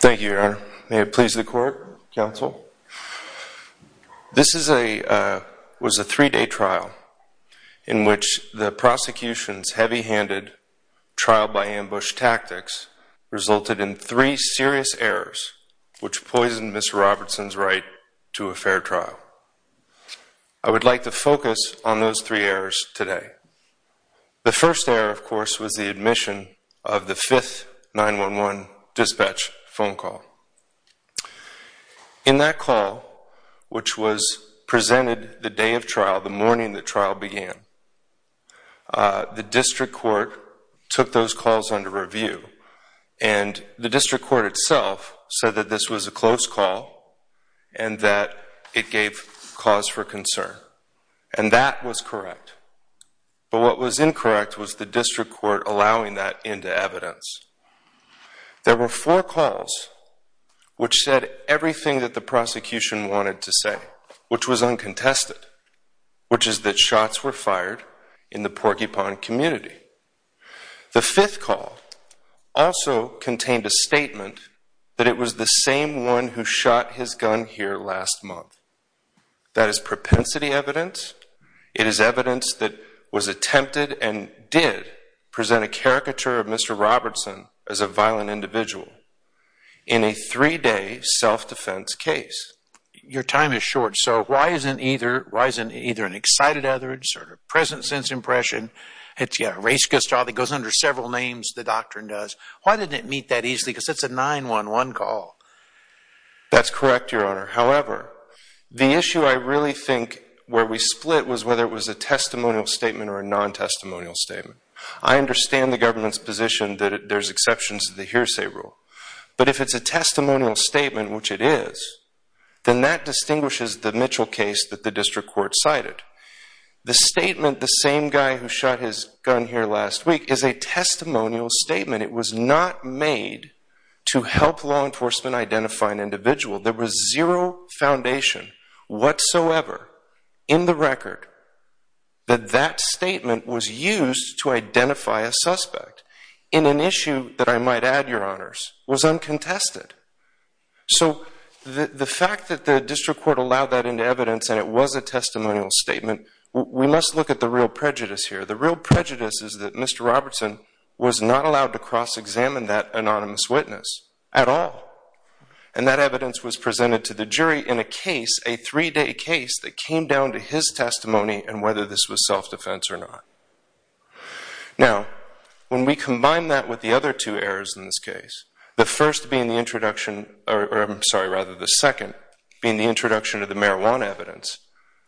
Thank you, Your Honor. May it please the court, counsel? This was a three-day trial in which the prosecution's heavy-handed trial-by-ambush tactics resulted in three serious errors which poisoned Mr. Robertson's right to a fair trial. I would like to focus on those three errors today. The first error, of course, was the admission of the fifth 9-1-1 dispatch phone call. In that call, which was presented the day of trial, the morning the trial began, the district court took those calls under review, and the district court itself said that this was a close call and that it gave cause for concern. And that was correct. But what was incorrect was the district court allowing that into evidence. There were four calls which said everything that the prosecution wanted to say, which was uncontested, which is that shots were fired in the porcupine community. The fifth call also contained a same one who shot his gun here last month. That is propensity evidence. It is evidence that was attempted and did present a caricature of Mr. Robertson as a violent individual in a three-day self-defense case. Your time is short, so why isn't either an excited utterance or a present sense impression? It's a race-ghost trial that goes under several names, the doctrine does. Why didn't it meet that easily? Because it's a 9-1-1 call. That's correct, Your Honor. However, the issue I really think where we split was whether it was a testimonial statement or a non-testimonial statement. I understand the government's position that there's exceptions to the hearsay rule, but if it's a testimonial statement, which it is, then that distinguishes the Mitchell case that the district court cited. The statement, the same guy who shot his gun here last week, is a testimonial statement. It was not made to help law enforcement identify an individual. There was zero foundation whatsoever in the record that that statement was used to identify a suspect in an issue that I might add, Your Honors, was uncontested. So the fact that the district court allowed that into evidence and it was a testimonial statement, we must look at the real prejudice here. The real prejudice is that the district court was not allowed to cross-examine that anonymous witness at all, and that evidence was presented to the jury in a case, a three-day case, that came down to his testimony and whether this was self-defense or not. Now, when we combine that with the other two errors in this case, the first being the introduction, or I'm sorry, rather the second, being the introduction of the marijuana evidence,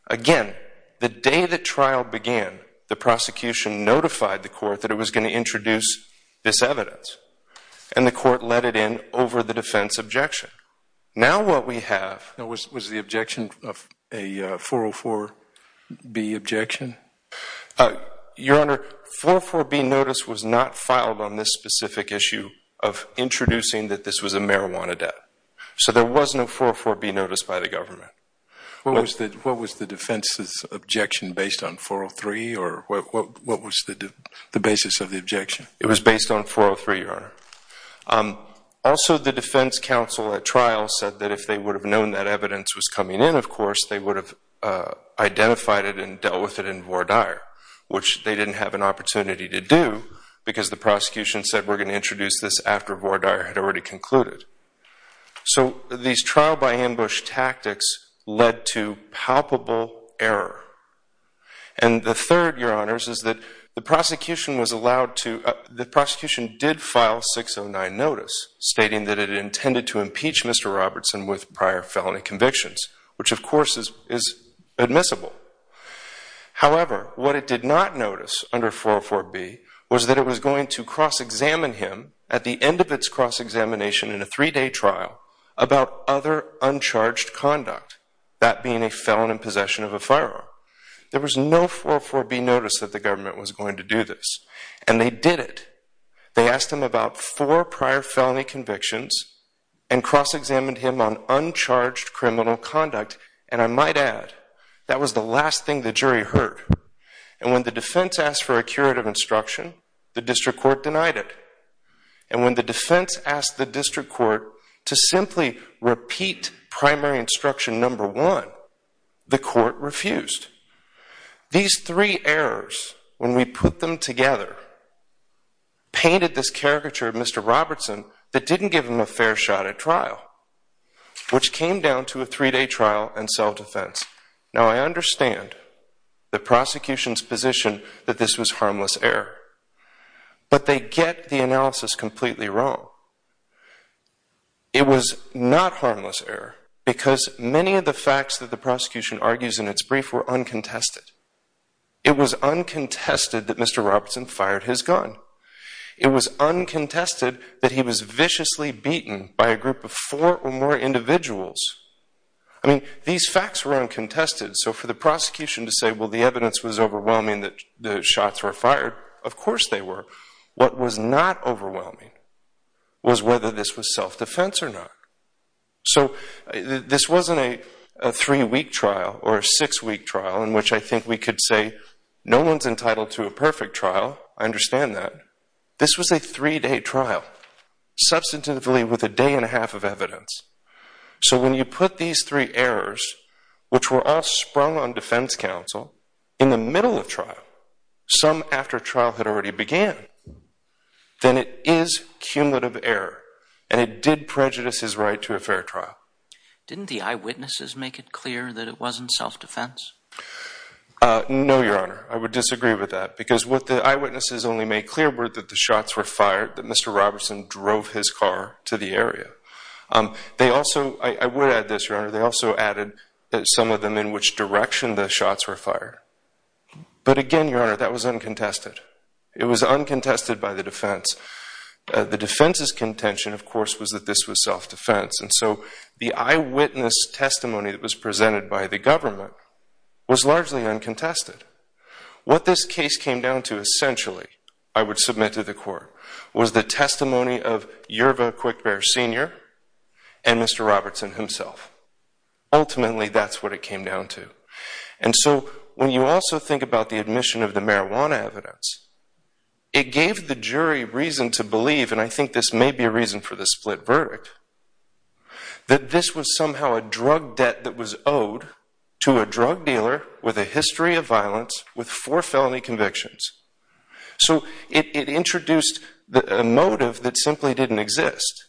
again, the day the trial began, the prosecution notified the court that it was going to introduce this evidence, and the court let it in over the defense objection. Now what we have... Was the objection a 404B objection? Your Honor, a 404B notice was not filed on this specific issue of introducing that this was a marijuana debt. So there was no 404B notice by the government. What was the defense's objection based on 403, or what was the basis of the objection? It was based on 403, Your Honor. Also, the defense counsel at trial said that if they would have known that evidence was coming in, of course, they would have identified it and dealt with it in Vordaer, which they didn't have an opportunity to do because the prosecution said, we're going to introduce this after Vordaer had already concluded. So these trial-by-ambush tactics led to palpable error. And the third, Your Honors, is that the prosecution was allowed to... The prosecution did file 609 notice stating that it intended to impeach Mr. Robertson with prior felony convictions, which of course is admissible. However, what it did not notice under 404B was that it was going to cross-examine him at the end of its cross-examination in a three-day trial about other uncharged conduct, that being a felon in possession of a firearm. There was no 404B notice that the government was going to do this. And they did it. They asked him about four prior felony convictions and cross-examined him on uncharged criminal conduct. And I might add, that was the last thing the jury heard. And when the defense asked for a curative instruction, the district court denied it. And when the defense asked the district court to simply repeat primary instruction number one, the court refused. These three errors, when we put them together, painted this caricature of Mr. Robertson that didn't give him a fair shot at trial, which came down to a three-day trial and self-defense. Now, I understand the prosecution's position that this was harmless error. But they get the analysis completely wrong. It was not harmless error because many of the facts that the prosecution argues in its brief were uncontested. It was uncontested that Mr. Robertson fired his gun. It was uncontested that he was viciously beaten by a group of four or more individuals. I mean, these facts were uncontested. So for the prosecution to say, well, the evidence was overwhelming that the shots were fired, of course they were. What was not overwhelming was whether this was self-defense or not. So this wasn't a three-week trial or a six-week trial in which I think we could say, no one's entitled to a perfect trial. I understand that. This was a three-day trial substantively with a day and a half of evidence. So when you put these three errors, which were all sprung on defense counsel in the middle of trial, some after trial had already began, then it is cumulative error. And it did prejudice his right to a fair trial. Didn't the eyewitnesses make it clear that it wasn't self-defense? No, Your Honor. I would disagree with that. Because what the eyewitnesses only made clear were that the shots were fired, that Mr. Robertson drove his car to the area. I would add this, Your Honor. They also added that some of them in which direction the shots were fired. But again, Your Honor, that was uncontested. It was uncontested by the defense. The defense's contention, of course, was that this was self-defense. And so the eyewitness testimony that was presented by the government was largely uncontested. What this case came down to, essentially, I would submit to the court, was the testimony of Yerva Quickbear, Sr. and Mr. Robertson himself. Ultimately, that's what it came down to. And so when you also think about the admission of the marijuana evidence, it gave the jury reason to believe, and I think this may be a reason for the split verdict, that this was somehow a drug debt that was owed to a drug dealer with a history of violence with four felony convictions. So it introduced a motive that simply didn't exist.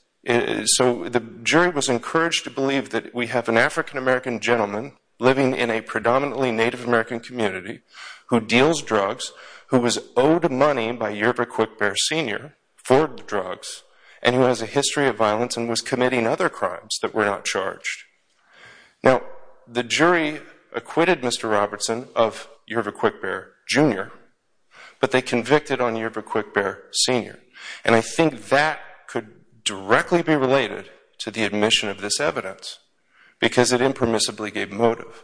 So the jury was encouraged to believe that we have an African-American gentleman living in a predominantly Native American community who deals drugs, who was owed money by Yerva Quickbear, Sr. for the drugs, and who has a history of violence and was committing other crimes that were not charged. Now, the jury acquitted Mr. Robertson of Yerva Quickbear, Jr., but they convicted on Yerva Quickbear, Sr. And I think that could directly be related to the admission of this evidence because it impermissibly gave motive.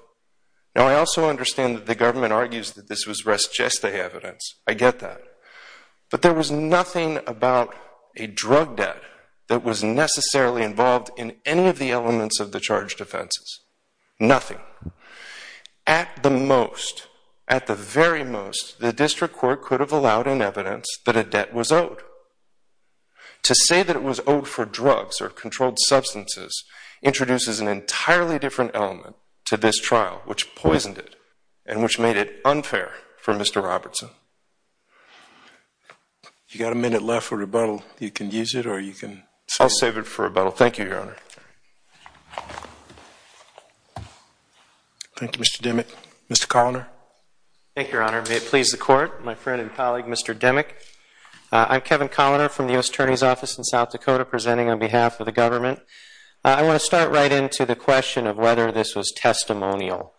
Now, I also understand that the government argues that this was res geste evidence. I get that. But there was nothing about a drug debt that was necessarily involved in any of the elements of the charged offenses. Nothing. At the most, at the very most, the district court could have allowed an evidence that a debt was owed. To say that it was owed for drugs or controlled substances introduces an entirely different element to this trial, which poisoned it and which made it unfair for Mr. Robertson. If you've got a minute left for rebuttal, you can use it or you can save it. I'll save it for rebuttal. Thank you, Your Honor. Thank you, Mr. Demick. Mr. Coloner. Thank you, Your Honor. May it please the Court, my friend and colleague, Mr. Demick. I'm Kevin Coloner from the U.S. Attorney's Office in South Dakota presenting on behalf of the government. I want to start right into the question of whether this was testimonial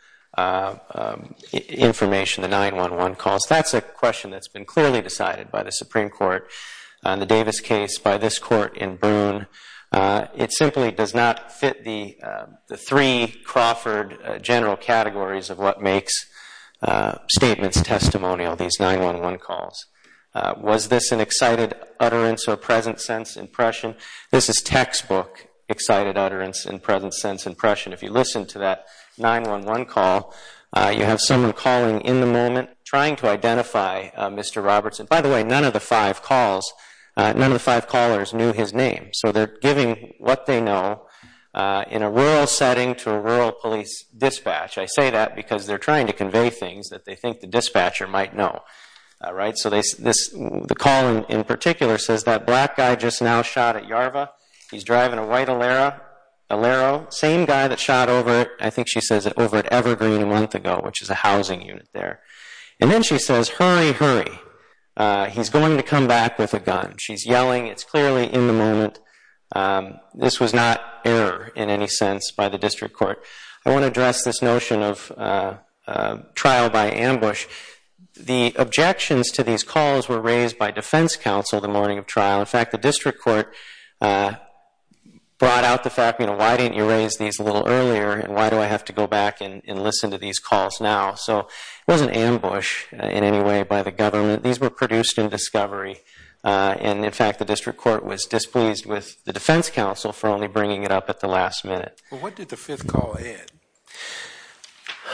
information, the 911 calls. That's a question that's been clearly decided by the Supreme Court on the Davis case, by this court in Broome. It simply does not fit the three Crawford general categories of what makes statements testimonial, these 911 calls. Was this an excited utterance or present sense impression? This is textbook excited utterance and present sense impression. If you listen to that 911 call, you have someone calling in the moment trying to identify Mr. Robertson. By the way, none of the five calls, none of the five callers knew his name. So they're giving what they know in a rural setting to a rural police dispatch. I say that because they're trying to convey things that they think the dispatcher might know. So the call in particular says that black guy just now shot at Yarva. He's driving a white Alero. Same guy that shot over, I think she says, over at Evergreen a month ago, which is a housing unit there. And then she says, hurry, hurry. He's going to come back with a gun. She's yelling. It's clearly in the moment. This was not error in any sense by the district court. I want to address this notion of trial by ambush. The objections to these calls were raised by defense counsel the morning of trial. In fact, the district court brought out the fact, you know, why didn't you raise these a little earlier and why do I have to go back and listen to these calls now? So it wasn't ambush in any way by the government. These were produced in discovery. And, in fact, the district court was displeased with the defense counsel for only bringing it up at the last minute. Well, what did the fifth call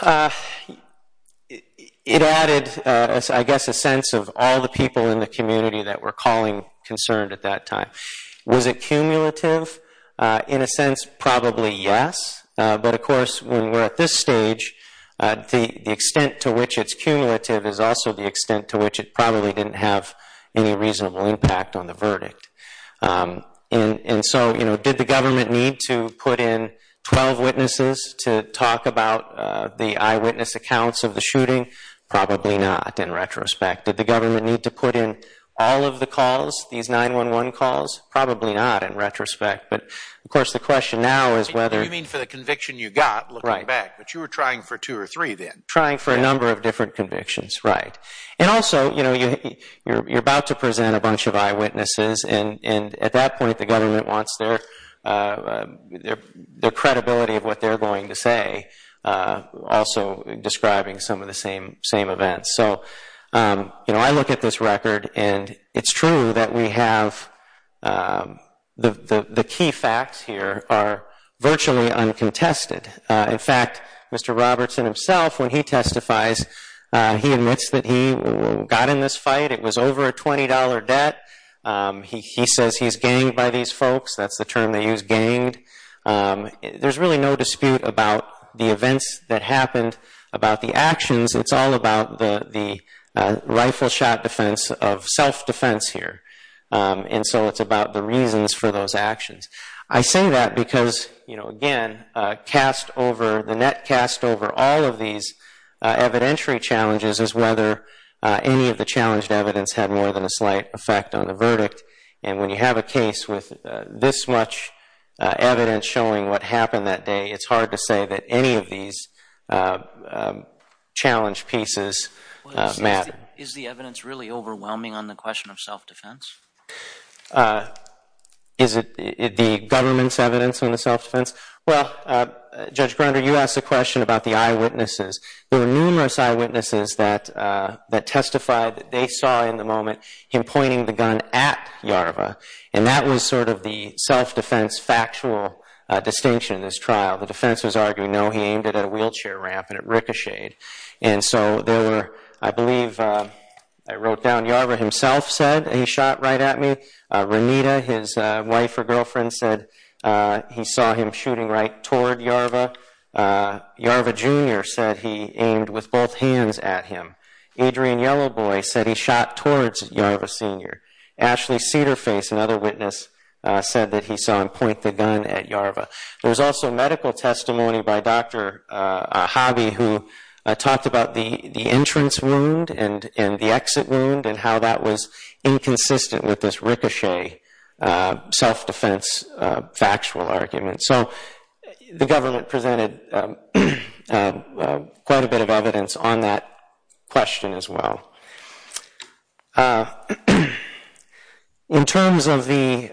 add? It added, I guess, a sense of all the people in the community that were calling concerned at that time. Was it cumulative? In a sense, probably yes. But, of course, when we're at this stage, the extent to which it's cumulative is also the extent to which it probably didn't have any reasonable impact on the verdict. And so, you know, did the government need to put in 12 witnesses to talk about the eyewitness accounts of the shooting? Probably not, in retrospect. Did the government need to put in all of the calls, these 911 calls? Probably not, in retrospect. But, of course, the question now is whether What do you mean for the conviction you got, looking back? But you were trying for two or three then? Trying for a number of different convictions, right. And also, you know, you're about to present a bunch of eyewitnesses, and at that point the government wants their credibility of what they're going to say, also describing some of the same events. So, you know, I look at this record, and it's true that we have the key facts here are virtually uncontested. In fact, Mr. Robertson himself, when he testifies, he admits that he got in this fight. It was over a $20 debt. He says he's ganged by these folks. That's the term they use, ganged. There's really no dispute about the events that happened, about the actions. It's all about the rifle shot defense of self-defense here. And so it's about the reasons for those actions. I say that because, you know, again, the net cast over all of these evidentiary challenges is whether any of the challenged evidence had more than a slight effect on the verdict. And when you have a case with this much evidence showing what happened that day, it's hard to say that any of these challenge pieces matter. Is the evidence really overwhelming on the question of self-defense? Is it the government's evidence on the self-defense? Well, Judge Grunder, you asked a question about the eyewitnesses. There were numerous eyewitnesses that testified that they saw in the moment him pointing the gun at Yarva, and that was sort of the self-defense factual distinction in this trial. The defense was arguing, no, he aimed it at a wheelchair ramp and it ricocheted. And so there were, I believe, I wrote down, Yarva himself said, he shot right at me. Renita, his wife or girlfriend, said he saw him shooting right toward Yarva. Yarva Jr. said he aimed with both hands at him. Adrian Yellowboy said he shot towards Yarva Sr. Ashley Cedarface, another witness, said that he saw him point the gun at Yarva. There was also medical testimony by Dr. Ahabi who talked about the entrance wound and the exit wound and how that was inconsistent with this ricochet self-defense factual argument. So the government presented quite a bit of evidence on that question as well. In terms of the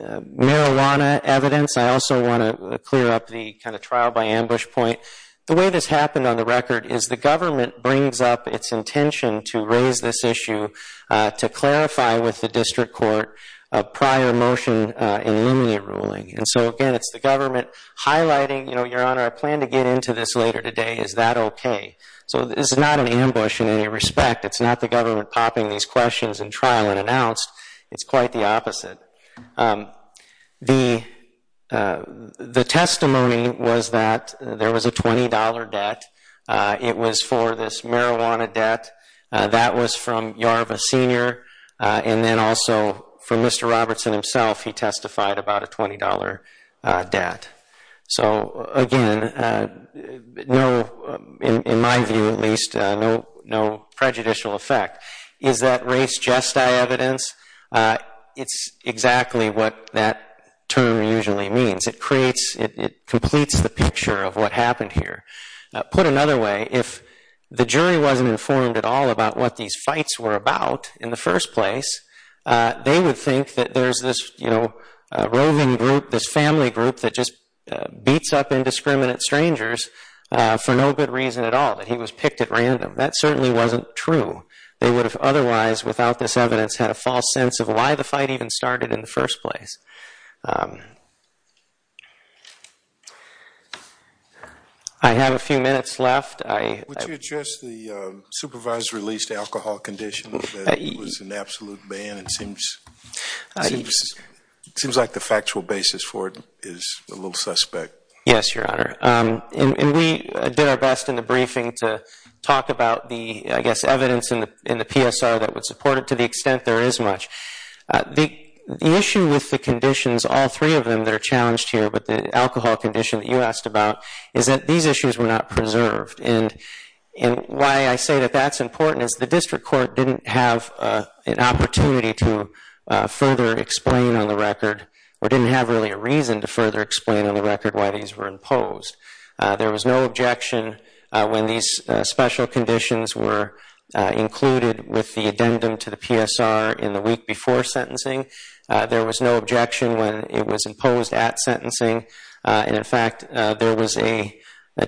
marijuana evidence, I also want to clear up the kind of trial by ambush point. The way this happened on the record is the government brings up its intention to raise this issue, to clarify with the district court a prior motion in limine ruling. And so, again, it's the government highlighting, you know, Your Honor, I plan to get into this later today. Is that okay? So this is not an ambush in any respect. It's not the government popping these questions in trial and announced. It's quite the opposite. The testimony was that there was a $20 debt. It was for this marijuana debt. That was from Yarva Sr. And then also from Mr. Robertson himself, he testified about a $20 debt. So, again, no, in my view at least, no prejudicial effect. Is that race jest I evidence? It's exactly what that term usually means. It creates, it completes the picture of what happened here. Put another way, if the jury wasn't informed at all about what these fights were about in the first place, they would think that there's this, you know, roving group, this family group that just beats up indiscriminate strangers for no good reason at all, that he was picked at random. That certainly wasn't true. They would have otherwise, without this evidence, had a false sense of why the fight even started in the first place. I have a few minutes left. Would you address the supervisor-released alcohol condition? It was an absolute ban. It seems like the factual basis for it is a little suspect. Yes, Your Honor. And we did our best in the briefing to talk about the, I guess, evidence in the PSR that would support it to the extent there is much. The issue with the conditions, all three of them that are challenged here, with the alcohol condition that you asked about, is that these issues were not preserved. And why I say that that's important is the district court didn't have an opportunity to further explain on the record, or didn't have really a reason to further explain on the record why these were imposed. There was no objection when these special conditions were included with the addendum to the PSR in the week before sentencing. There was no objection when it was imposed at sentencing. And, in fact, there was a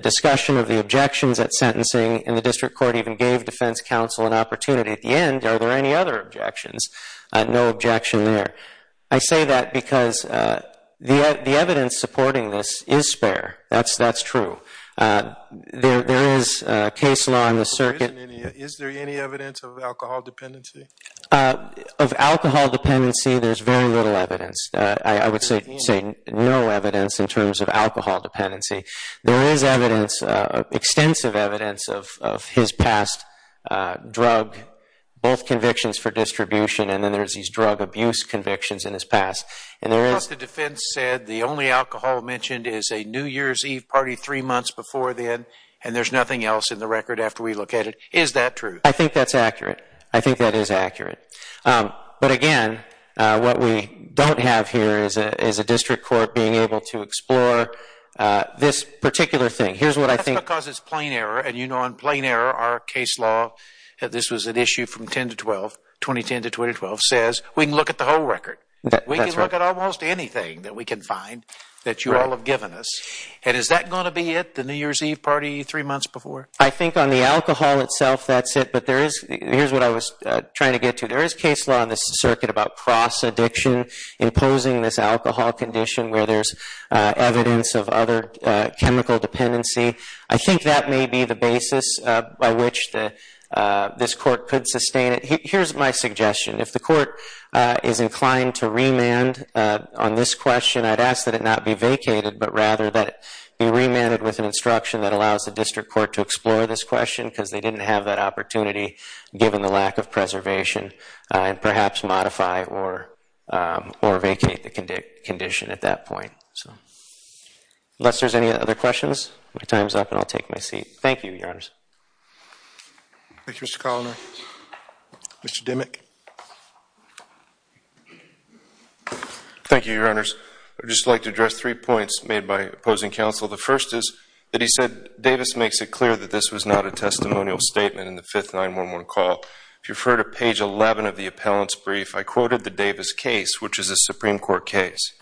discussion of the objections at sentencing, and the district court even gave defense counsel an opportunity at the end, are there any other objections? No objection there. I say that because the evidence supporting this is spare. That's true. There is case law in the circuit. Is there any evidence of alcohol dependency? Of alcohol dependency, there's very little evidence. I would say no evidence in terms of alcohol dependency. There is evidence, extensive evidence, of his past drug, both convictions for distribution, and then there's these drug abuse convictions in his past. The defense said the only alcohol mentioned is a New Year's Eve party three months before then, and there's nothing else in the record after we look at it. Is that true? I think that's accurate. I think that is accurate. But, again, what we don't have here is a district court being able to explore this particular thing. That's because it's plain error, and you know in plain error our case law, this was an issue from 2010 to 2012, says we can look at the whole record. We can look at almost anything that we can find that you all have given us. And is that going to be it, the New Year's Eve party three months before? I think on the alcohol itself, that's it. But here's what I was trying to get to. There is case law in this circuit about cross-addiction, imposing this alcohol condition where there's evidence of other chemical dependency. I think that may be the basis by which this court could sustain it. Here's my suggestion. If the court is inclined to remand on this question, I'd ask that it not be vacated, but rather that it be remanded with an instruction that allows the district court to explore this question because they didn't have that opportunity given the lack of preservation, and perhaps modify or vacate the condition at that point. Unless there's any other questions, my time's up and I'll take my seat. Thank you, Your Honors. Thank you, Mr. Coloner. Mr. Dimmock. Thank you, Your Honors. I'd just like to address three points made by opposing counsel. The first is that he said Davis makes it clear that this was not a testimonial statement in the 5th 9-1-1 call. If you've heard of page 11 of the appellant's brief, I quoted the Davis case, which is a Supreme Court case.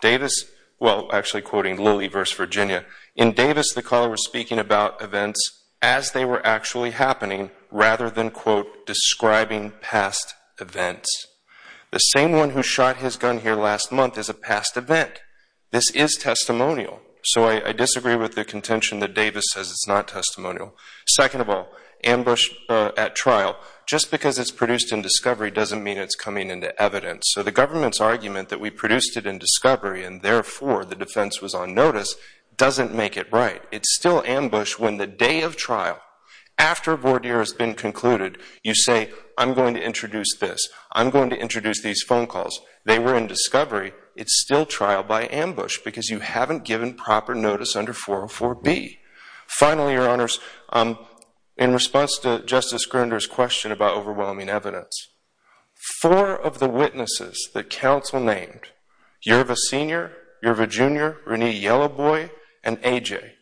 Davis, well, actually quoting Lilly v. Virginia, in Davis the caller was speaking about events as they were actually happening rather than, quote, describing past events. The same one who shot his gun here last month is a past event. This is testimonial. So I disagree with the contention that Davis says it's not testimonial. Second of all, ambush at trial, just because it's produced in discovery doesn't mean it's coming into evidence. So the government's argument that we produced it in discovery and therefore the defense was on notice doesn't make it right. It's still ambush when the day of trial, after voir dire has been concluded, you say, I'm going to introduce this, I'm going to introduce these phone calls. They were in discovery. It's still trial by ambush because you haven't given proper notice under 404B. Finally, Your Honors, in response to Justice Grinder's question about overwhelming evidence, four of the witnesses that counsel named, Yerva Sr., Yerva Jr., Renee Yellowboy, and A.J.,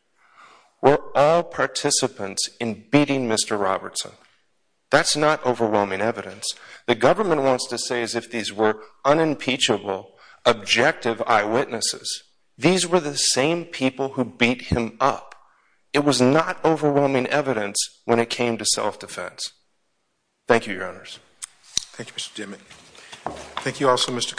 were all participants in beating Mr. Robertson. That's not overwhelming evidence. The government wants to say as if these were unimpeachable, objective eyewitnesses. These were the same people who beat him up. It was not overwhelming evidence when it came to self-defense. Thank you, Your Honors. Thank you, Mr. Dimmock.